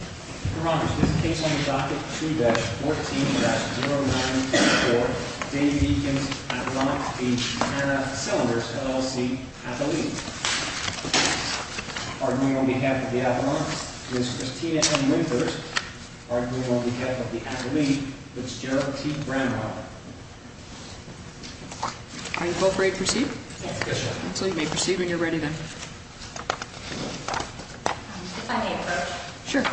Your Honors, this case on the docket 2-14-0924, Dave Eakins v. Hanna Cylinders, LLC, Appellee. Arguing on behalf of the Appellant, Ms. Christina M. Winters. Arguing on behalf of the Appellee, Ms. Gerald T. Brandweiler. May the culprit proceed? Yes, Your Honor. So you may proceed when you're ready then. If I may approach? Sure. Mr.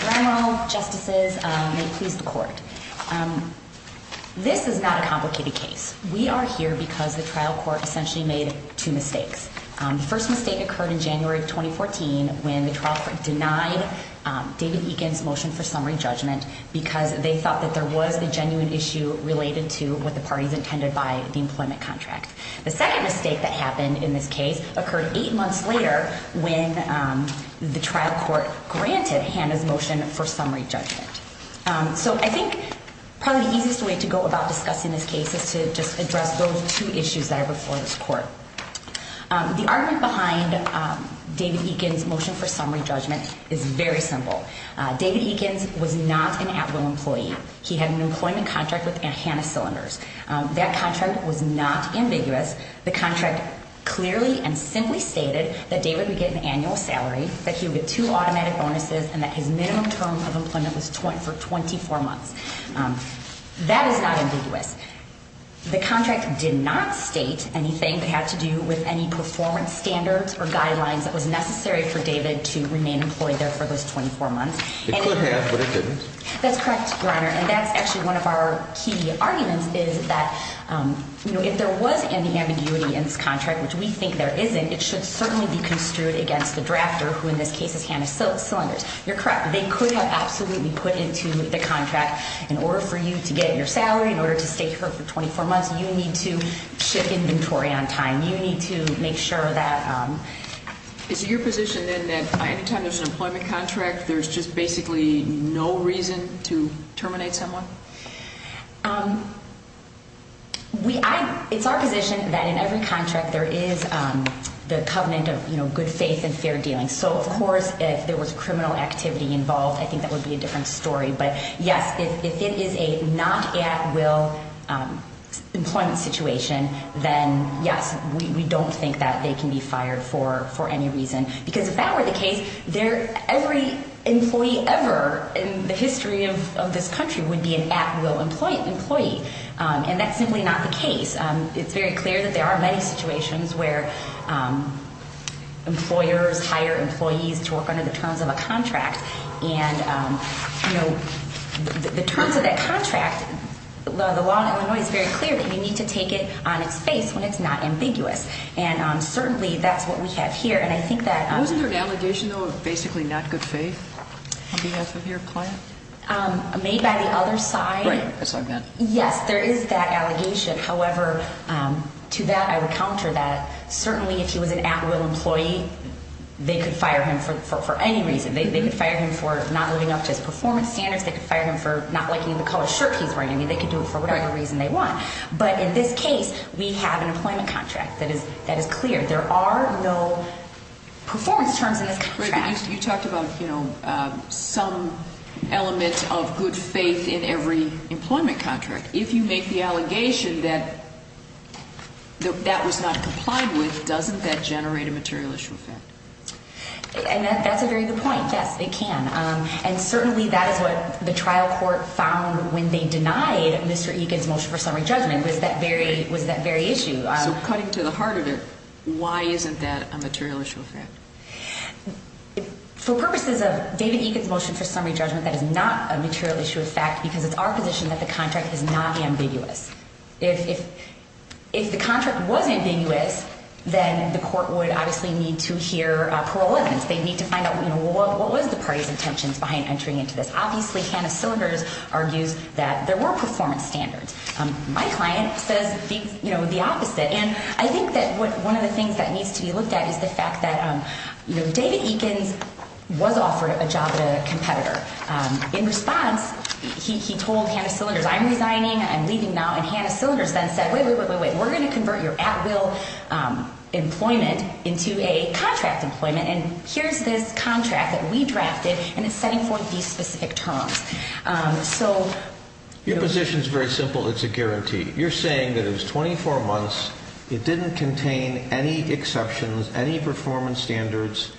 Granwell, Justices, may it please the Court. This is not a complicated case. We are here because the trial court essentially made two mistakes. The first mistake occurred in January of 2014 when the trial court denied David Eakins' motion for summary judgment because they thought that there was a genuine issue related to what the parties intended by the employment contract. The second mistake that happened in this case occurred eight months later when the trial court granted Hanna's motion for summary judgment. So I think probably the easiest way to go about discussing this case is to just address those two issues that are before this Court. The argument behind David Eakins' motion for summary judgment is very simple. David Eakins was not an at-will employee. He had an employment contract with Hanna Cylinders. That contract was not ambiguous. The contract clearly and simply stated that David would get an annual salary, that he would get two automatic bonuses, and that his minimum term of employment was 24 months. That is not ambiguous. The contract did not state anything that had to do with any performance standards or guidelines that was necessary for David to remain employed there for those 24 months. It could have, but it didn't. That's correct, Your Honor, and that's actually one of our key arguments is that if there was any ambiguity in this contract, which we think there isn't, it should certainly be construed against the drafter, who in this case is Hanna Cylinders. You're correct. They could have absolutely put into the contract, in order for you to get your salary, in order to stay here for 24 months, you need to ship inventory on time. You need to make sure that... Is it your position, then, that any time there's an employment contract, there's just basically no reason to terminate someone? It's our position that in every contract there is the covenant of good faith and fair dealing. So, of course, if there was criminal activity involved, I think that would be a different story. But, yes, if it is a not-at-will employment situation, then, yes, we don't think that they can be fired for any reason. Because if that were the case, every employee ever in the history of this country would be an at-will employee, and that's simply not the case. It's very clear that there are many situations where employers hire employees to work under the terms of a contract. And, you know, the terms of that contract, the law in Illinois is very clear that you need to take it on its face when it's not ambiguous. And, certainly, that's what we have here. And I think that... Wasn't there an allegation, though, of basically not good faith on behalf of your client? Made by the other side? Right. That's what I meant. Yes, there is that allegation. However, to that I would counter that. Certainly, if he was an at-will employee, they could fire him for any reason. They could fire him for not living up to his performance standards. They could fire him for not liking the color shirt he's wearing. I mean, they could do it for whatever reason they want. But, in this case, we have an employment contract that is clear. There are no performance terms in this contract. You talked about, you know, some element of good faith in every employment contract. If you make the allegation that that was not complied with, doesn't that generate a material issue effect? And that's a very good point. Yes, it can. And, certainly, that is what the trial court found when they denied Mr. Egan's motion for summary judgment was that very issue. So, cutting to the heart of it, why isn't that a material issue effect? For purposes of David Egan's motion for summary judgment, that is not a material issue effect because it's our position that the contract is not ambiguous. If the contract was ambiguous, then the court would obviously need to hear parole evidence. They'd need to find out, you know, what was the party's intentions behind entering into this. Obviously, Tana Silvers argues that there were performance standards. My client says, you know, the opposite. And I think that one of the things that needs to be looked at is the fact that, you know, David Egan was offered a job at a competitor. In response, he told Tana Silvers, I'm resigning. I'm leaving now. And Tana Silvers then said, wait, wait, wait, wait, wait. We're going to convert your at-will employment into a contract employment. And here's this contract that we drafted, and it's setting forth these specific terms. Your position is very simple. It's a guarantee. You're saying that it was 24 months. It didn't contain any exceptions, any performance standards,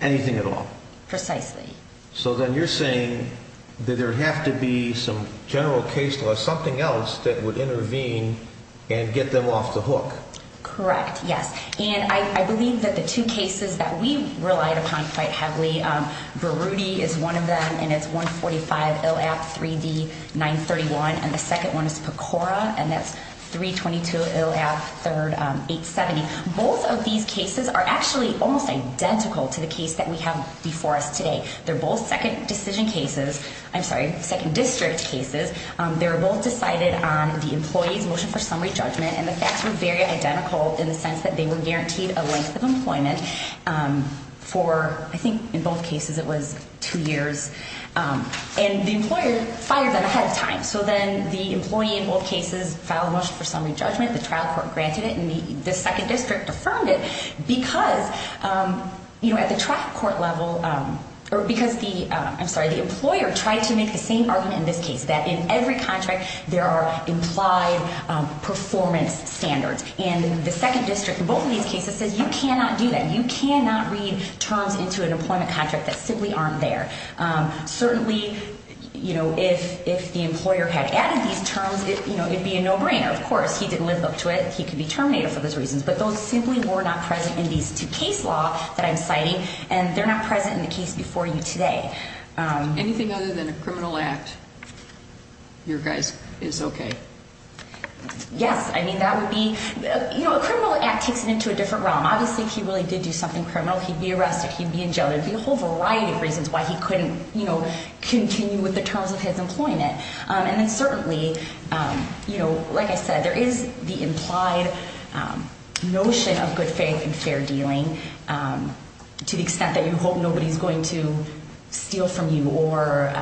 anything at all. Precisely. So then you're saying that there would have to be some general case law, something else that would intervene and get them off the hook. Correct, yes. And I believe that the two cases that we relied upon quite heavily, Virudi is one of them, and it's 145-ILAP-3D-931. And the second one is PCORA, and that's 322-ILAP-870. Both of these cases are actually almost identical to the case that we have before us today. They're both second decision cases. I'm sorry, second district cases. They're both decided on the employee's motion for summary judgment, and the facts were very identical in the sense that they were guaranteed a length of employment for, I think in both cases it was two years, and the employer fired them ahead of time. So then the employee in both cases filed a motion for summary judgment. The trial court granted it, and the second district affirmed it because, you know, at the trial court level, or because the employer tried to make the same argument in this case, that in every contract there are implied performance standards. And the second district in both of these cases says you cannot do that. You cannot read terms into an employment contract that simply aren't there. Certainly, you know, if the employer had added these terms, you know, it would be a no-brainer. Of course, he didn't live up to it. He could be terminated for those reasons. But those simply were not present in these two case law that I'm citing, and they're not present in the case before you today. Anything other than a criminal act, you guys, is okay? Yes. I mean, that would be, you know, a criminal act takes it into a different realm. Obviously, if he really did do something criminal, he'd be arrested. He'd be in jail. There would be a whole variety of reasons why he couldn't, you know, continue with the terms of his employment. And then certainly, you know, like I said, there is the implied notion of good faith and fair dealing to the extent that you hope nobody's going to steal from you or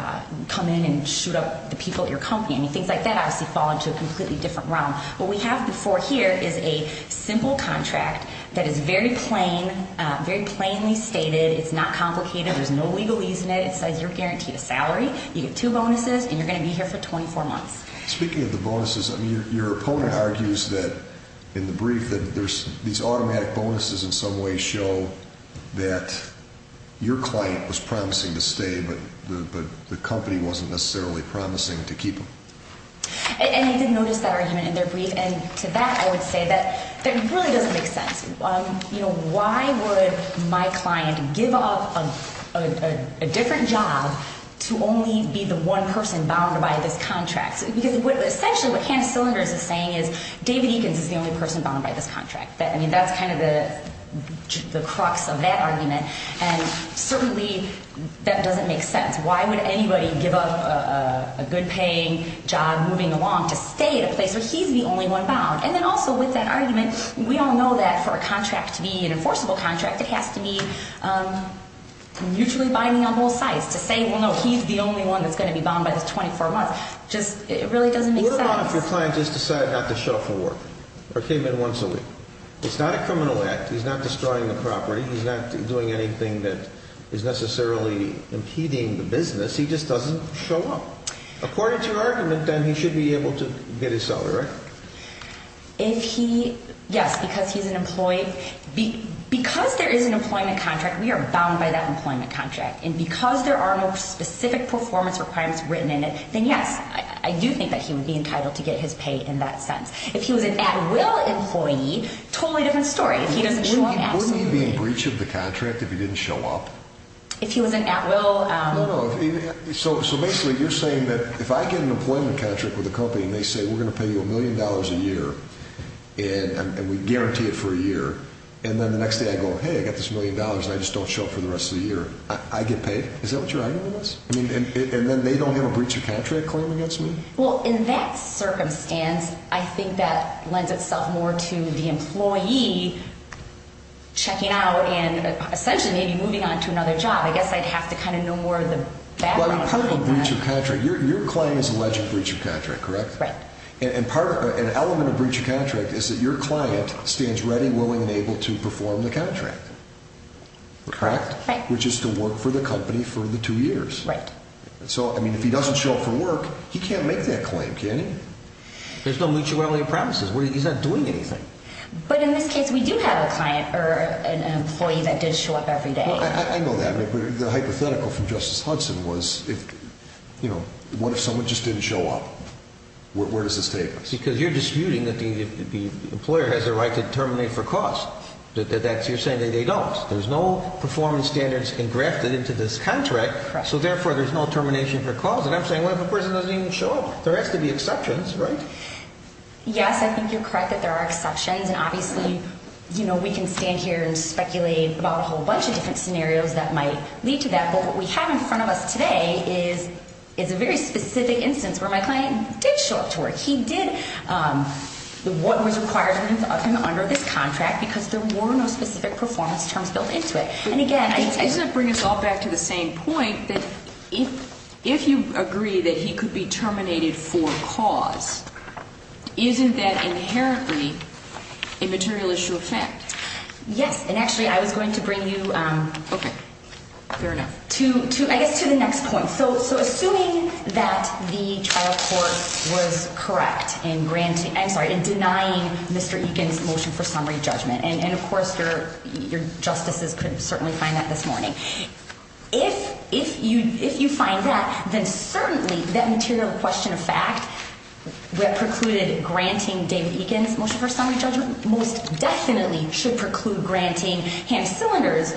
come in and shoot up the people at your company. I mean, things like that obviously fall into a completely different realm. What we have before here is a simple contract that is very plain, very plainly stated. It's not complicated. There's no legalese in it. It says you're guaranteed a salary. You get two bonuses, and you're going to be here for 24 months. Speaking of the bonuses, I mean, your opponent argues that in the brief that there's these automatic bonuses in some way show that your client was promising to stay, but the company wasn't necessarily promising to keep him. And I did notice that argument in their brief. And to that, I would say that that really doesn't make sense. You know, why would my client give up a different job to only be the one person bound by this contract? Because essentially what Canna Cylinders is saying is David Eakins is the only person bound by this contract. I mean, that's kind of the crux of that argument. And certainly, that doesn't make sense. Why would anybody give up a good-paying job moving along to stay at a place where he's the only one bound? And then also with that argument, we all know that for a contract to be an enforceable contract, it has to be mutually binding on both sides. To say, well, no, he's the only one that's going to be bound by this 24 months just really doesn't make sense. What about if your client just decided not to show up for work or came in once a week? It's not a criminal act. He's not destroying the property. He's not doing anything that is necessarily impeding the business. He just doesn't show up. According to your argument, then he should be able to get his salary, right? Yes, because he's an employee. Because there is an employment contract, we are bound by that employment contract. And because there are no specific performance requirements written in it, then yes, I do think that he would be entitled to get his pay in that sense. If he was an at-will employee, totally different story. Wouldn't he be in breach of the contract if he didn't show up? If he was an at-will? So basically you're saying that if I get an employment contract with a company and they say we're going to pay you a million dollars a year and we guarantee it for a year, and then the next day I go, hey, I got this million dollars and I just don't show up for the rest of the year, I get paid? Is that what your argument is? And then they don't have a breach of contract claim against me? Well, in that circumstance, I think that lends itself more to the employee checking out and essentially maybe moving on to another job. I guess I'd have to kind of know more of the background. Part of a breach of contract, your claim is alleged breach of contract, correct? Right. And an element of breach of contract is that your client stands ready, willing, and able to perform the contract. Correct. Which is to work for the company for the two years. Right. So, I mean, if he doesn't show up for work, he can't make that claim, can he? There's no mutuality of promises. He's not doing anything. But in this case, we do have a client or an employee that does show up every day. I know that, but the hypothetical from Justice Hudson was, you know, what if someone just didn't show up? Where does this take us? Because you're disputing that the employer has a right to terminate for cause. You're saying that they don't. There's no performance standards engrafted into this contract. So, therefore, there's no termination for cause. And I'm saying, what if a person doesn't even show up? There has to be exceptions, right? Yes, I think you're correct that there are exceptions. And obviously, you know, we can stand here and speculate about a whole bunch of different scenarios that might lead to that. But what we have in front of us today is a very specific instance where my client did show up to work. He did what was required of him under this contract because there were no specific performance terms built into it. Isn't that bringing us all back to the same point that if you agree that he could be terminated for cause, isn't that inherently a material issue of fact? Yes, and actually, I was going to bring you to the next point. So, assuming that the trial court was correct in denying Mr. Egan's motion for summary judgment, and, of course, your justices could certainly find that this morning, if you find that, then certainly that material question of fact that precluded granting David Egan's motion for summary judgment most definitely should preclude granting Hamm Cylinder's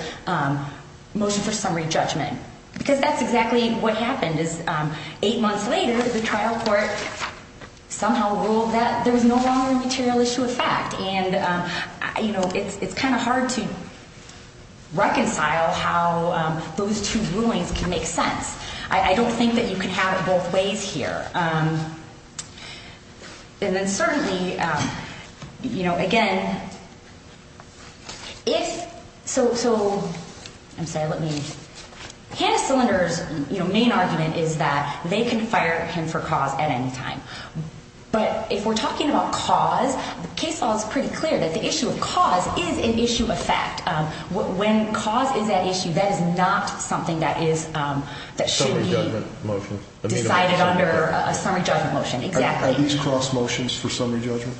motion for summary judgment because that's exactly what happened is eight months later, the trial court somehow ruled that there was no longer a material issue of fact. And, you know, it's kind of hard to reconcile how those two rulings can make sense. I don't think that you can have it both ways here. And then certainly, you know, again, if so, Hamm Cylinder's main argument is that they can fire him for cause at any time. But if we're talking about cause, the case law is pretty clear that the issue of cause is an issue of fact. When cause is at issue, that is not something that should be decided under a summary judgment motion. Are these cross motions for summary judgment?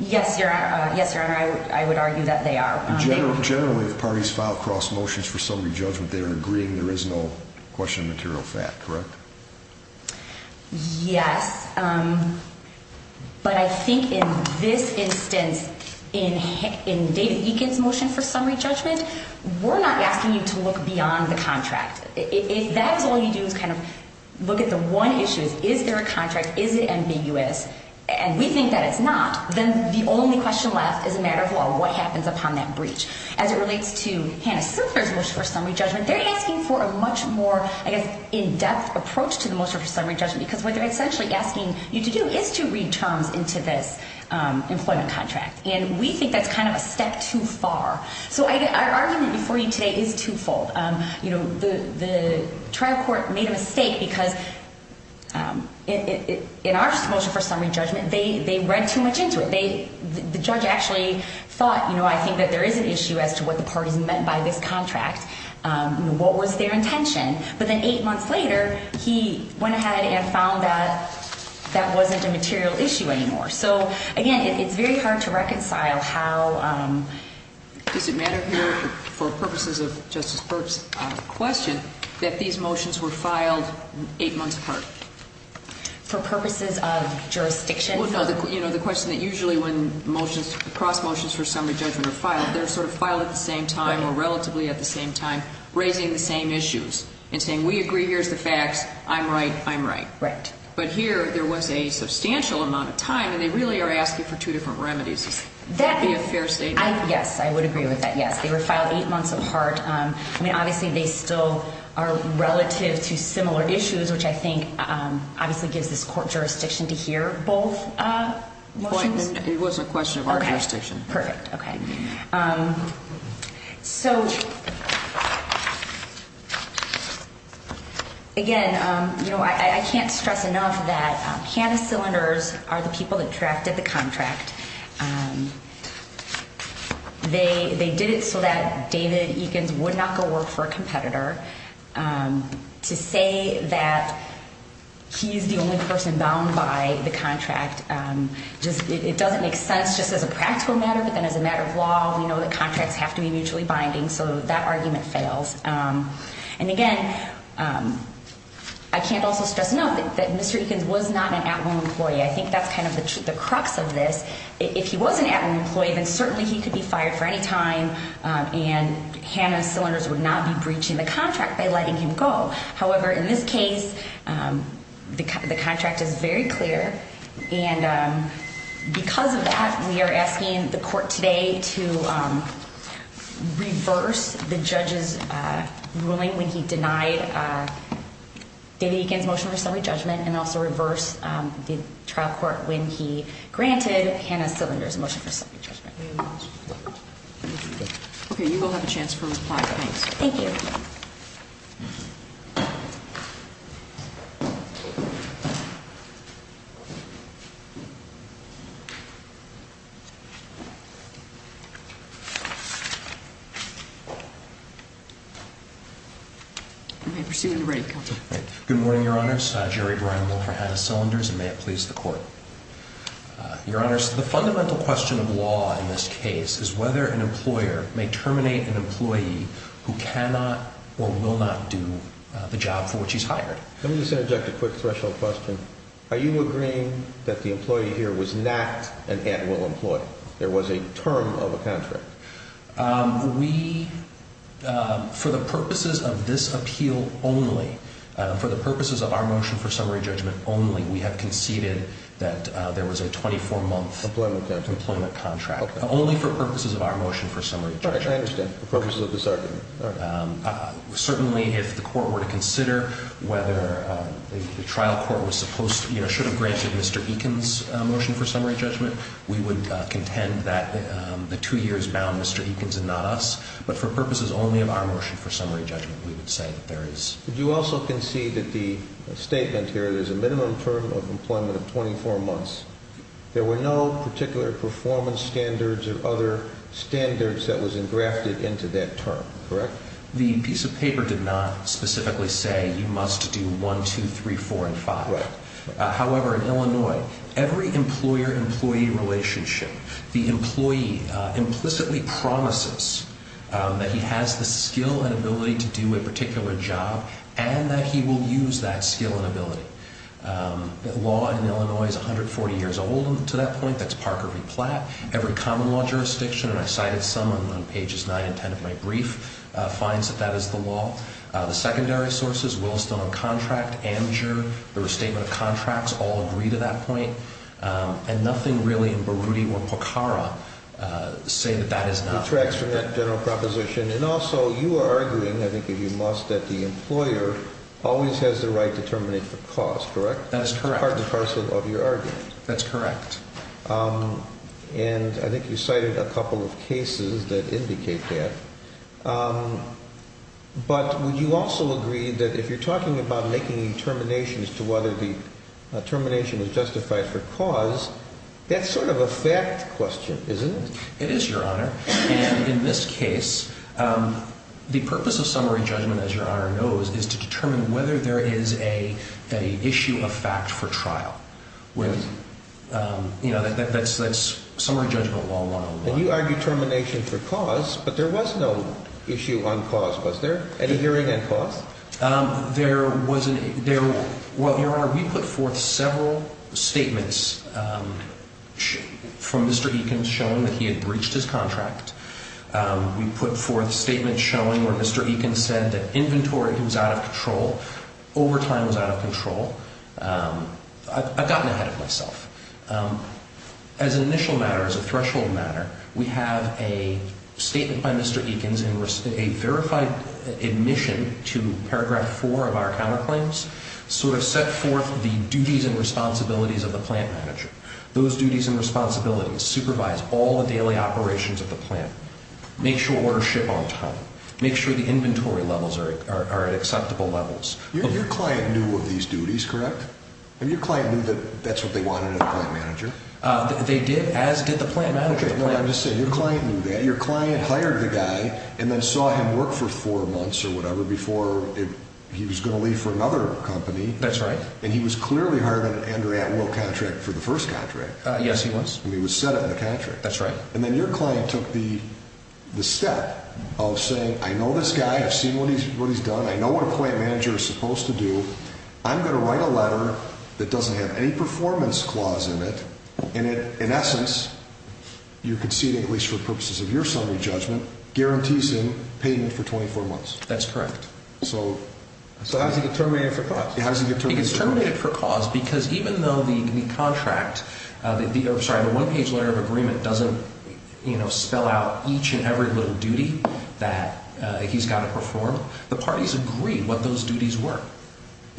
Yes, Your Honor, I would argue that they are. Generally, if parties file cross motions for summary judgment, they are agreeing there is no question of material fact, correct? Yes. But I think in this instance, in David Eakin's motion for summary judgment, we're not asking you to look beyond the contract. If that's all you do is kind of look at the one issue, is there a contract, is it ambiguous, and we think that it's not, then the only question left is a matter of, well, what happens upon that breach? As it relates to Hannah Sinclair's motion for summary judgment, they're asking for a much more, I guess, in-depth approach to the motion for summary judgment because what they're essentially asking you to do is to read terms into this employment contract. And we think that's kind of a step too far. So our argument before you today is twofold. You know, the trial court made a mistake because in our motion for summary judgment, they read too much into it. The judge actually thought, you know, I think that there is an issue as to what the parties meant by this contract. What was their intention? But then eight months later, he went ahead and found that that wasn't a material issue anymore. So, again, it's very hard to reconcile how... Does it matter here, for purposes of Justice Birx's question, that these motions were filed eight months apart? For purposes of jurisdiction? Well, no. You know, the question that usually when motions, cross motions for summary judgment are filed, they're sort of filed at the same time or relatively at the same time, raising the same issues and saying, we agree, here's the facts, I'm right, I'm right. Right. But here, there was a substantial amount of time, and they really are asking for two different remedies. Would that be a fair statement? Yes, I would agree with that, yes. They were filed eight months apart. I mean, obviously, they still are relative to similar issues, which I think obviously gives this court jurisdiction to hear both motions. It was a question of our jurisdiction. Okay, perfect, okay. So, again, you know, I can't stress enough that Hannah Cylinders are the people that drafted the contract. They did it so that David Eakins would not go work for a competitor. To say that he's the only person bound by the contract, it doesn't make sense just as a practical matter, but then as a matter of law, we know that contracts have to be mutually binding. So that argument fails. And, again, I can't also stress enough that Mr. Eakins was not an at-home employee. I think that's kind of the crux of this. If he was an at-home employee, then certainly he could be fired for any time, and Hannah Cylinders would not be breaching the contract by letting him go. However, in this case, the contract is very clear, and because of that, we are asking the court today to reverse the judge's ruling when he denied David Eakins' motion for summary judgment, and also reverse the trial court when he granted Hannah Cylinders' motion for summary judgment. Okay, you all have a chance to reply tonight. Thank you. Good morning, Your Honors. I'm Jerry Brimel for Hannah Cylinders, and may it please the court. Your Honors, the fundamental question of law in this case is whether an employer may terminate an employee who cannot or will not do the job for which he's hired. Let me just interject a quick threshold question. Are you agreeing that the employee here was not an at-will employee? There was a term of a contract. We, for the purposes of this appeal only, for the purposes of our motion for summary judgment only, we have conceded that there was a 24-month employment contract. Okay. Only for purposes of our motion for summary judgment. Okay, I understand. For purposes of this argument. Certainly, if the court were to consider whether the trial court should have granted Mr. Eakins' motion for summary judgment, we would contend that the two years bound Mr. Eakins and not us. But for purposes only of our motion for summary judgment, we would say that there is. But you also concede that the statement here, there's a minimum term of employment of 24 months. There were no particular performance standards or other standards that was engrafted into that term, correct? The piece of paper did not specifically say you must do one, two, three, four, and five. Right. However, in Illinois, every employer-employee relationship, the employee implicitly promises that he has the skill and ability to do a particular job and that he will use that skill and ability. The law in Illinois is 140 years old to that point. That's Parker v. Platt. Every common law jurisdiction, and I cited some on pages 9 and 10 of my brief, finds that that is the law. The secondary sources, Williston Contract, Amateur, the Restatement of Contracts, all agree to that point. And nothing really in Baruti or Pokhara say that that is not. It retracts from that general proposition. And also, you are arguing, I think if you must, that the employer always has the right to terminate the cost, correct? That is correct. Part and parcel of your argument. That's correct. And I think you cited a couple of cases that indicate that. But would you also agree that if you're talking about making determinations to whether the termination is justified for cause, that's sort of a fact question, isn't it? It is, Your Honor. And in this case, the purpose of summary judgment, as Your Honor knows, is to determine whether there is an issue of fact for trial. That's summary judgment law 101. And you argue termination for cause, but there was no issue on cause. Was there? Any hearing on cause? There wasn't. Well, Your Honor, we put forth several statements from Mr. Eakins showing that he had breached his contract. We put forth statements showing where Mr. Eakins said that inventory was out of control, overtime was out of control. I've gotten ahead of myself. As an initial matter, as a threshold matter, we have a statement by Mr. Eakins in a verified admission to Paragraph 4 of our counterclaims, sort of set forth the duties and responsibilities of the plant manager. Those duties and responsibilities supervise all the daily operations of the plant, make sure orders ship on time, make sure the inventory levels are at acceptable levels. Your client knew of these duties, correct? Your client knew that that's what they wanted in a plant manager? They did, as did the plant manager. Okay, I'm just saying, your client knew that. Your client hired the guy and then saw him work for four months or whatever before he was going to leave for another company. That's right. And he was clearly hired on an Andrea Atwill contract for the first contract. Yes, he was. And he was set up in the contract. That's right. And then your client took the step of saying, I know this guy, I've seen what he's done, I know what a plant manager is supposed to do. I'm going to write a letter that doesn't have any performance clause in it, and in essence, you're conceding, at least for purposes of your summary judgment, guarantees him payment for 24 months. That's correct. So how does he get terminated for cause? He gets terminated for cause because even though the one-page letter of agreement doesn't spell out each and every little duty that he's got to perform, the parties agree what those duties were.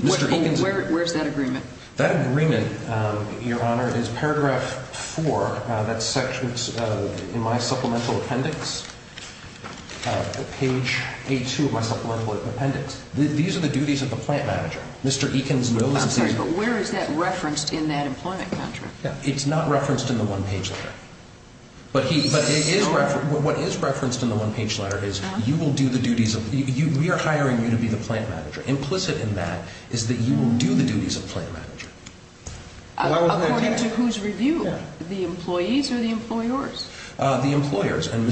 Where's that agreement? That agreement, your Honor, is paragraph four. That section's in my supplemental appendix, page A2 of my supplemental appendix. These are the duties of the plant manager. I'm sorry, but where is that referenced in that employment contract? It's not referenced in the one-page letter. But what is referenced in the one-page letter is we are hiring you to be the plant manager. Implicit in that is that you will do the duties of plant manager. According to whose review? The employees or the employers? The employers. And,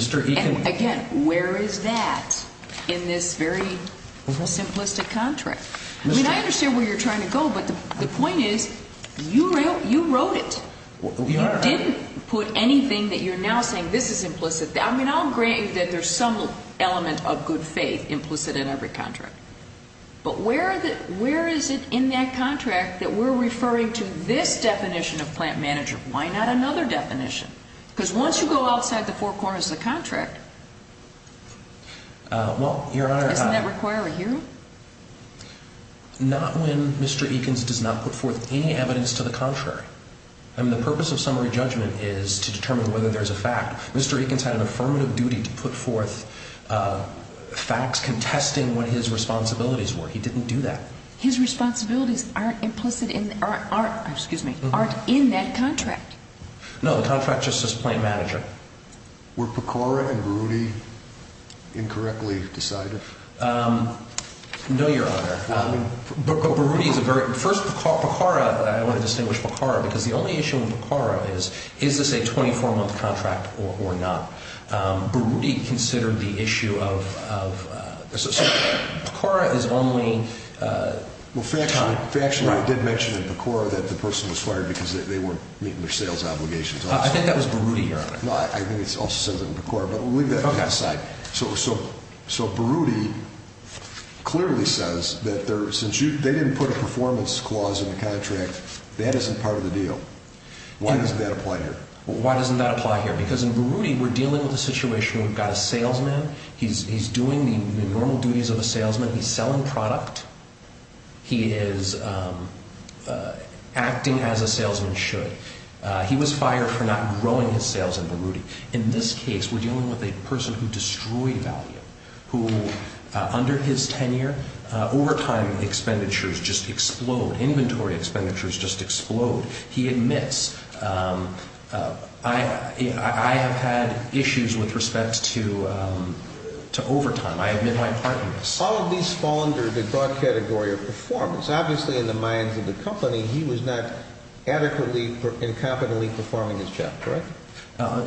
again, where is that in this very simplistic contract? I mean, I understand where you're trying to go, but the point is you wrote it. You didn't put anything that you're now saying this is implicit. I mean, I'll agree that there's some element of good faith implicit in every contract. But where is it in that contract that we're referring to this definition of plant manager? Why not another definition? Because once you go outside the four corners of the contract, isn't that requiring you? Not when Mr. Eakins does not put forth any evidence to the contrary. I mean, the purpose of summary judgment is to determine whether there's a fact. Mr. Eakins had an affirmative duty to put forth facts contesting what his responsibilities were. He didn't do that. His responsibilities aren't implicit in, excuse me, aren't in that contract. No, the contract just says plant manager. Were Pecora and Berruti incorrectly decided? No, Your Honor. But Berruti is a very, first Pecora, I want to distinguish Pecora because the only issue with Pecora is, is this a 24-month contract or not? Berruti considered the issue of, Pecora is only time. Well, factually it did mention in Pecora that the person was fired because they weren't meeting their sales obligations. I think that was Berruti, Your Honor. I think it also says it in Pecora, but we'll leave that to the side. So Berruti clearly says that since they didn't put a performance clause in the contract, that isn't part of the deal. Why doesn't that apply here? Why doesn't that apply here? Because in Berruti, we're dealing with a situation where we've got a salesman. He's doing the normal duties of a salesman. He's selling product. He is acting as a salesman should. He was fired for not growing his sales in Berruti. In this case, we're dealing with a person who destroyed value, who under his tenure, overtime expenditures just explode. Inventory expenditures just explode. He admits, I have had issues with respect to overtime. I admit my part in this. All of these fall under the broad category of performance. Obviously, in the minds of the company, he was not adequately and competently performing his job. Correct?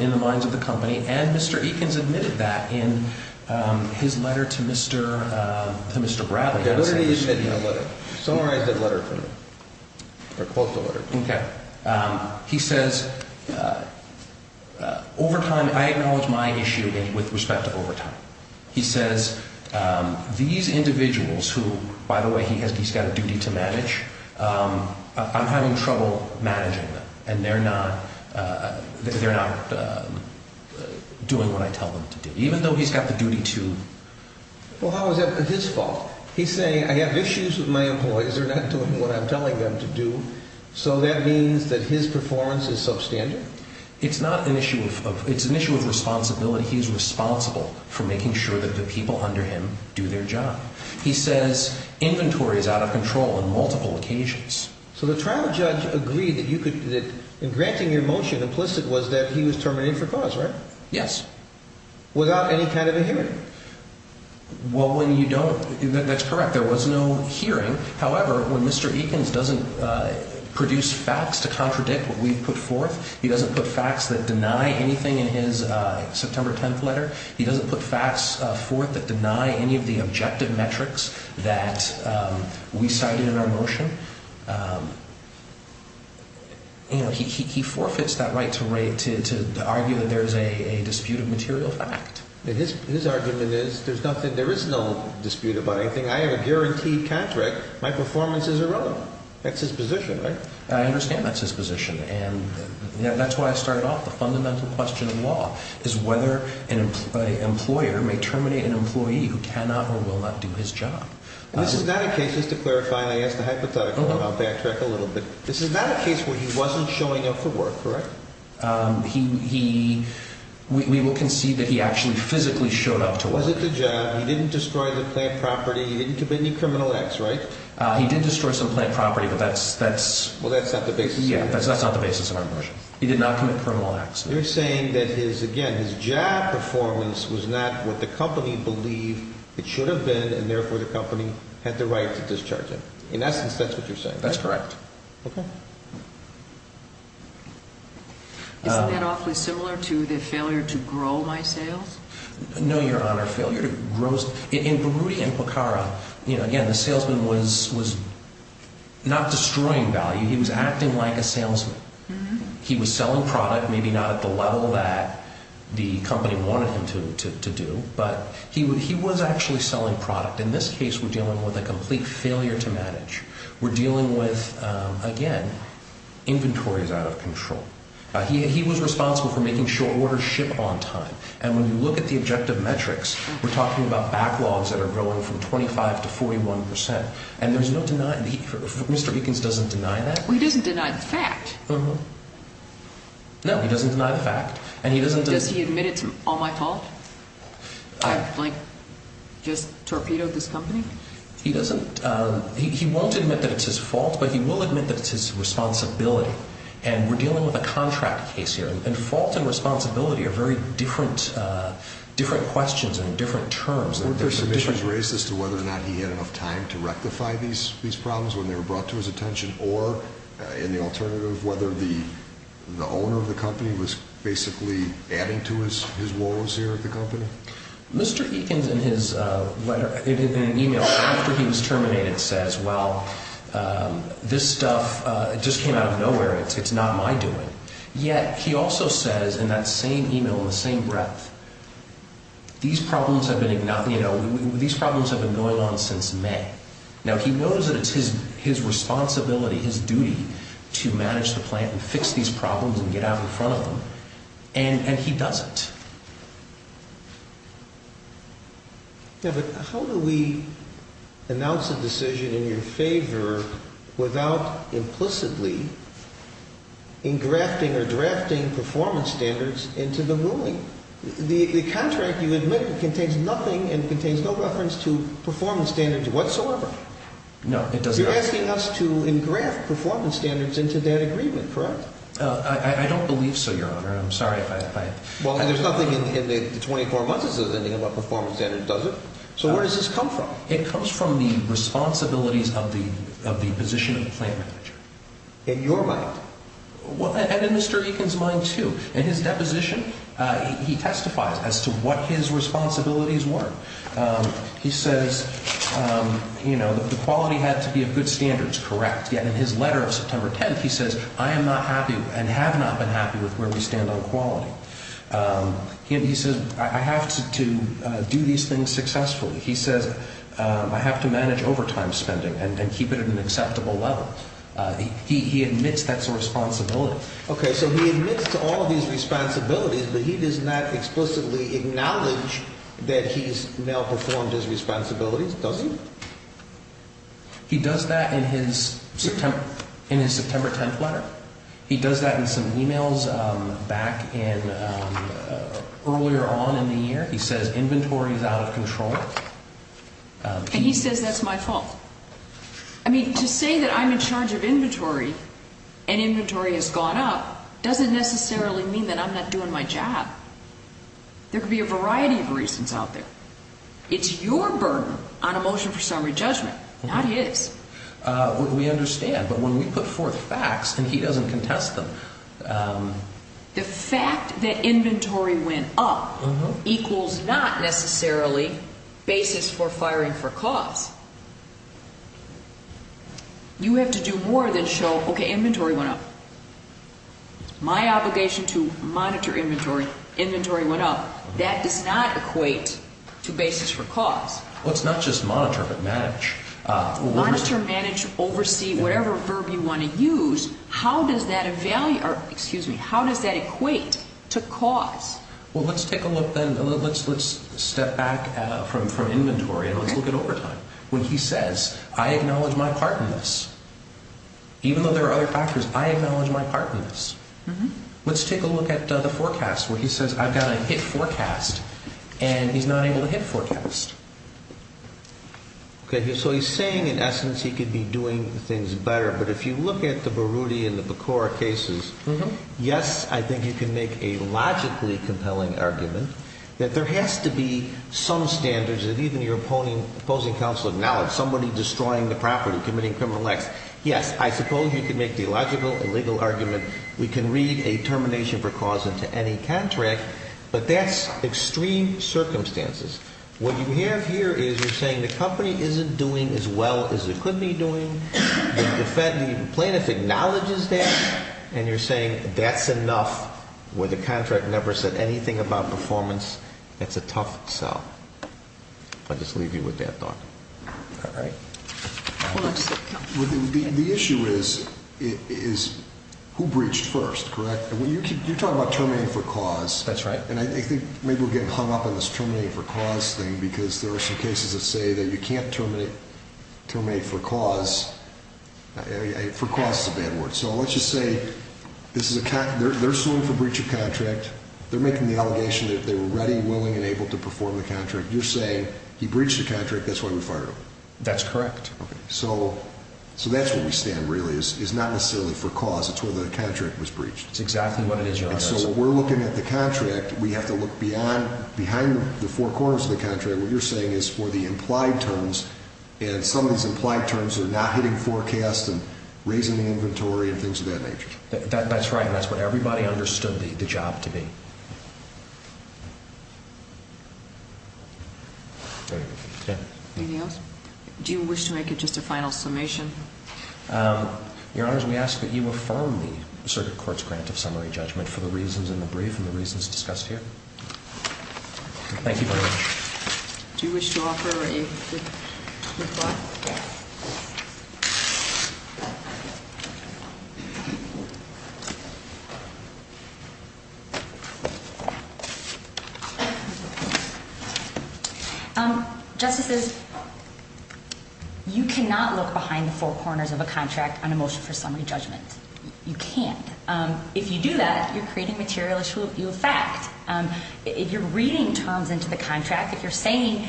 In the minds of the company. And Mr. Ekins admitted that in his letter to Mr. Bradley. Summarize that letter for me. Or quote the letter. Okay. He says, overtime, I acknowledge my issue with respect to overtime. He says, these individuals who, by the way, he's got a duty to manage, I'm having trouble managing them. And they're not doing what I tell them to do. Even though he's got the duty to. Well, how is that his fault? He's saying, I have issues with my employees. They're not doing what I'm telling them to do. So that means that his performance is substandard? It's not an issue of, it's an issue of responsibility. He's responsible for making sure that the people under him do their job. He says, inventory is out of control on multiple occasions. So the trial judge agreed that you could, in granting your motion, implicit was that he was terminated for cause, right? Yes. Without any kind of a hearing? Well, when you don't, that's correct. There was no hearing. However, when Mr. Ekins doesn't produce facts to contradict what we've put forth, he doesn't put facts that deny anything in his September 10th letter. He doesn't put facts forth that deny any of the objective metrics that we cited in our motion. You know, he forfeits that right to argue that there's a dispute of material fact. His argument is, there's nothing, there is no dispute about anything. I have a guaranteed contract. My performance is irrelevant. I understand that's his position. And that's why I started off. The fundamental question of law is whether an employer may terminate an employee who cannot or will not do his job. This is not a case, just to clarify, and I ask the hypothetical, and I'll backtrack a little bit. This is not a case where he wasn't showing up for work, correct? He, we will concede that he actually physically showed up to work. Was it the job? He didn't destroy the plant property. He didn't commit any criminal acts, right? He did destroy some plant property, but that's, that's. Well, that's not the basis. Yeah, that's not the basis of our motion. He did not commit criminal acts. You're saying that his, again, his job performance was not what the company believed it should have been, and therefore the company had the right to discharge him. In essence, that's what you're saying, right? That's correct. Okay. Isn't that awfully similar to the failure to grow my sales? No, Your Honor. Failure to grow, in Berruti and Pokhara, you know, again, the salesman was, was not destroying value. He was acting like a salesman. He was selling product, maybe not at the level that the company wanted him to do, but he was actually selling product. In this case, we're dealing with a complete failure to manage. We're dealing with, again, inventory is out of control. He was responsible for making short orders ship on time, and when you look at the objective metrics, we're talking about backlogs that are growing from 25 to 41 percent, and there's no denying, Mr. Eakins doesn't deny that. Well, he doesn't deny the fact. No, he doesn't deny the fact, and he doesn't. Does he admit it's all my fault? I, like, just torpedoed this company? He doesn't. He won't admit that it's his fault, but he will admit that it's his responsibility, and we're dealing with a contract case here, and fault and responsibility are very different, different questions and different terms. Weren't there submissions raised as to whether or not he had enough time to rectify these problems when they were brought to his attention, or, in the alternative, whether the owner of the company was basically adding to his woes here at the company? Mr. Eakins, in his letter, in an e-mail after he was terminated, says, well, this stuff just came out of nowhere. It's not my doing. Yet he also says, in that same e-mail, in the same breath, these problems have been going on since May. Now, he knows that it's his responsibility, his duty to manage the plant and fix these problems and get out in front of them, and he doesn't. Yeah, but how do we announce a decision in your favor without implicitly engrafting or drafting performance standards into the ruling? The contract, you admit, contains nothing and contains no reference to performance standards whatsoever. No, it doesn't. You're asking us to engraft performance standards into that agreement, correct? I don't believe so, Your Honor. I'm sorry if I — Well, there's nothing in the 24 months that says anything about performance standards, does it? So where does this come from? It comes from the responsibilities of the position of the plant manager. In your mind? And in Mr. Eakins' mind, too. In his deposition, he testifies as to what his responsibilities were. He says, you know, the quality had to be of good standards, correct, yet in his letter of September 10th, he says, I am not happy and have not been happy with where we stand on quality. He says, I have to do these things successfully. He says, I have to manage overtime spending and keep it at an acceptable level. He admits that's a responsibility. Okay, so he admits to all of these responsibilities, but he does not explicitly acknowledge that he's malperformed his responsibilities, does he? He does that in his September 10th letter. He does that in some e-mails back in — earlier on in the year. He says inventory is out of control. And he says that's my fault. I mean, to say that I'm in charge of inventory and inventory has gone up doesn't necessarily mean that I'm not doing my job. There could be a variety of reasons out there. It's your burden on a motion for summary judgment, not his. We understand. But when we put forth facts and he doesn't contest them. The fact that inventory went up equals not necessarily basis for firing for cause. You have to do more than show, okay, inventory went up. My obligation to monitor inventory, inventory went up. That does not equate to basis for cause. Well, it's not just monitor but manage. Monitor, manage, oversee, whatever verb you want to use. How does that equate to cause? Well, let's take a look then. Let's step back from inventory and let's look at overtime. When he says, I acknowledge my part in this. Even though there are other factors, I acknowledge my part in this. Let's take a look at the forecast where he says I've got a hit forecast and he's not able to hit forecast. So he's saying, in essence, he could be doing things better. But if you look at the Baruti and the Bacora cases, yes, I think you can make a logically compelling argument that there has to be some standards that even your opposing counsel acknowledges. Somebody destroying the property, committing criminal acts. Yes, I suppose you can make the logical and legal argument. We can read a termination for cause into any contract. But that's extreme circumstances. What you have here is you're saying the company isn't doing as well as it could be doing. The Fed, the plaintiff acknowledges that and you're saying that's enough where the contract never said anything about performance. That's a tough sell. I'll just leave you with that thought. All right. The issue is who breached first, correct? You're talking about terminating for cause. That's right. And I think maybe we're getting hung up on this terminating for cause thing because there are some cases that say that you can't terminate for cause. For cause is a bad word. So let's just say they're suing for breach of contract. They're making the allegation that they were ready, willing, and able to perform the contract. You're saying he breached the contract. That's why we fired him. That's correct. So that's where we stand, really, is not necessarily for cause. It's where the contract was breached. That's exactly what it is, Your Honor. So when we're looking at the contract, we have to look behind the four corners of the contract. What you're saying is for the implied terms, and some of these implied terms are not hitting forecast and raising the inventory and things of that nature. That's right, and that's what everybody understood the job to be. Anything else? Do you wish to make just a final summation? Your Honor, we ask that you affirm the circuit court's grant of summary judgment for the reasons in the brief and the reasons discussed here. Thank you very much. Do you wish to offer a reply? Yes. Justices, you cannot look behind the four corners of a contract on a motion for summary judgment. You can't. If you do that, you're creating material issue of fact. If you're reading terms into the contract, if you're saying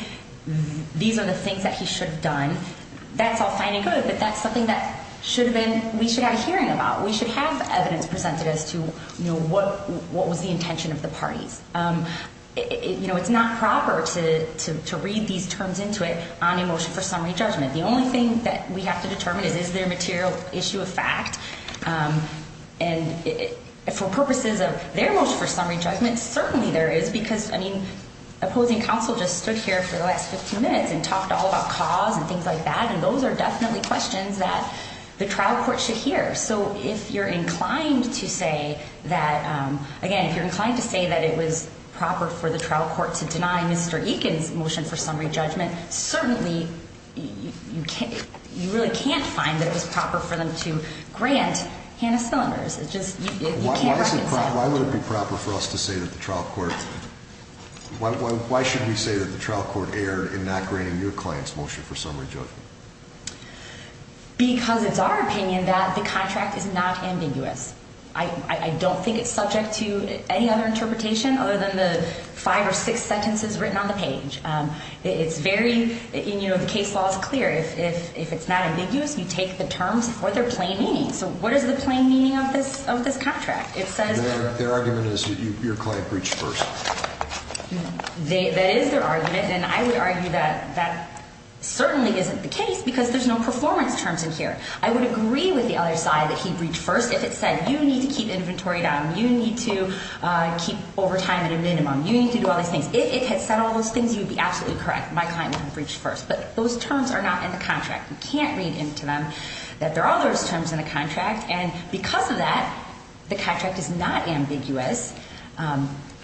these are the things that he should have done, that's all fine and good, but that's something that we should have a hearing about. We should have evidence presented as to what was the intention of the parties. It's not proper to read these terms into it on a motion for summary judgment. The only thing that we have to determine is, is there a material issue of fact? And for purposes of their motion for summary judgment, certainly there is, because opposing counsel just stood here for the last 15 minutes and talked all about cause and things like that, and those are definitely questions that the trial court should hear. So if you're inclined to say that, again, if you're inclined to say that it was proper for the trial court to deny Mr. Eakin's motion for summary judgment, certainly you really can't find that it was proper for them to grant Hannah Smillinger's. It just, you can't reconcile that. Why would it be proper for us to say that the trial court, why should we say that the trial court erred in not granting your client's motion for summary judgment? Because it's our opinion that the contract is not ambiguous. I don't think it's subject to any other interpretation other than the five or six sentences written on the page. It's very, you know, the case law is clear. If it's not ambiguous, you take the terms for their plain meaning. So what is the plain meaning of this contract? Their argument is your client breached first. That is their argument, and I would argue that that certainly isn't the case because there's no performance terms in here. I would agree with the other side that he breached first. If it said you need to keep inventory down, you need to keep overtime at a minimum, you need to do all these things. If it had said all those things, you would be absolutely correct. My client would have breached first. But those terms are not in the contract. You can't read into them that there are those terms in the contract, and because of that, the contract is not ambiguous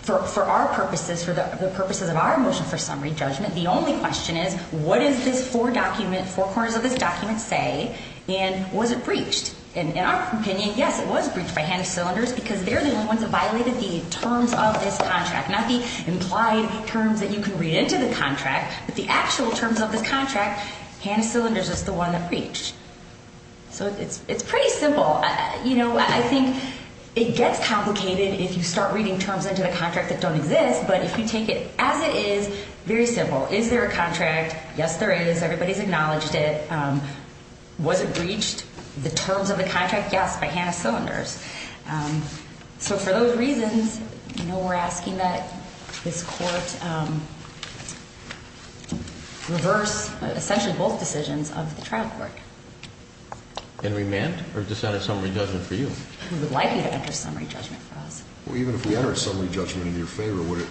for our purposes, for the purposes of our motion for summary judgment. The only question is, what does this four document, four corners of this document say, and was it breached? In our opinion, yes, it was breached by Hannah Cylinders because they're the only ones that violated the terms of this contract, not the implied terms that you can read into the contract, but the actual terms of this contract. Hannah Cylinders is the one that breached. So it's pretty simple. I think it gets complicated if you start reading terms into the contract that don't exist, but if you take it as it is, very simple. Is there a contract? Yes, there is. Everybody has acknowledged it. Was it breached? The terms of the contract, yes, by Hannah Cylinders. So for those reasons, you know, we're asking that this court reverse essentially both decisions of the trial court. And remand? Or just enter summary judgment for you? We would like you to enter summary judgment for us. Well, even if we entered summary judgment in your favor, would it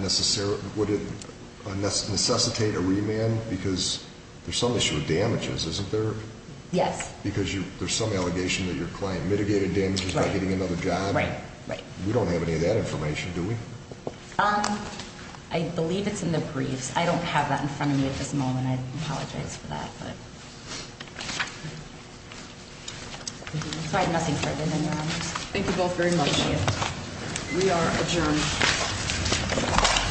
necessitate a remand? Because there's some issue with damages, isn't there? Yes. Because there's some allegation that your client mitigated damages by getting another job. Right, right. We don't have any of that information, do we? I believe it's in the briefs. I don't have that in front of me at this moment. I apologize for that. So I have nothing further than that. Thank you both very much. Thank you. We are adjourned.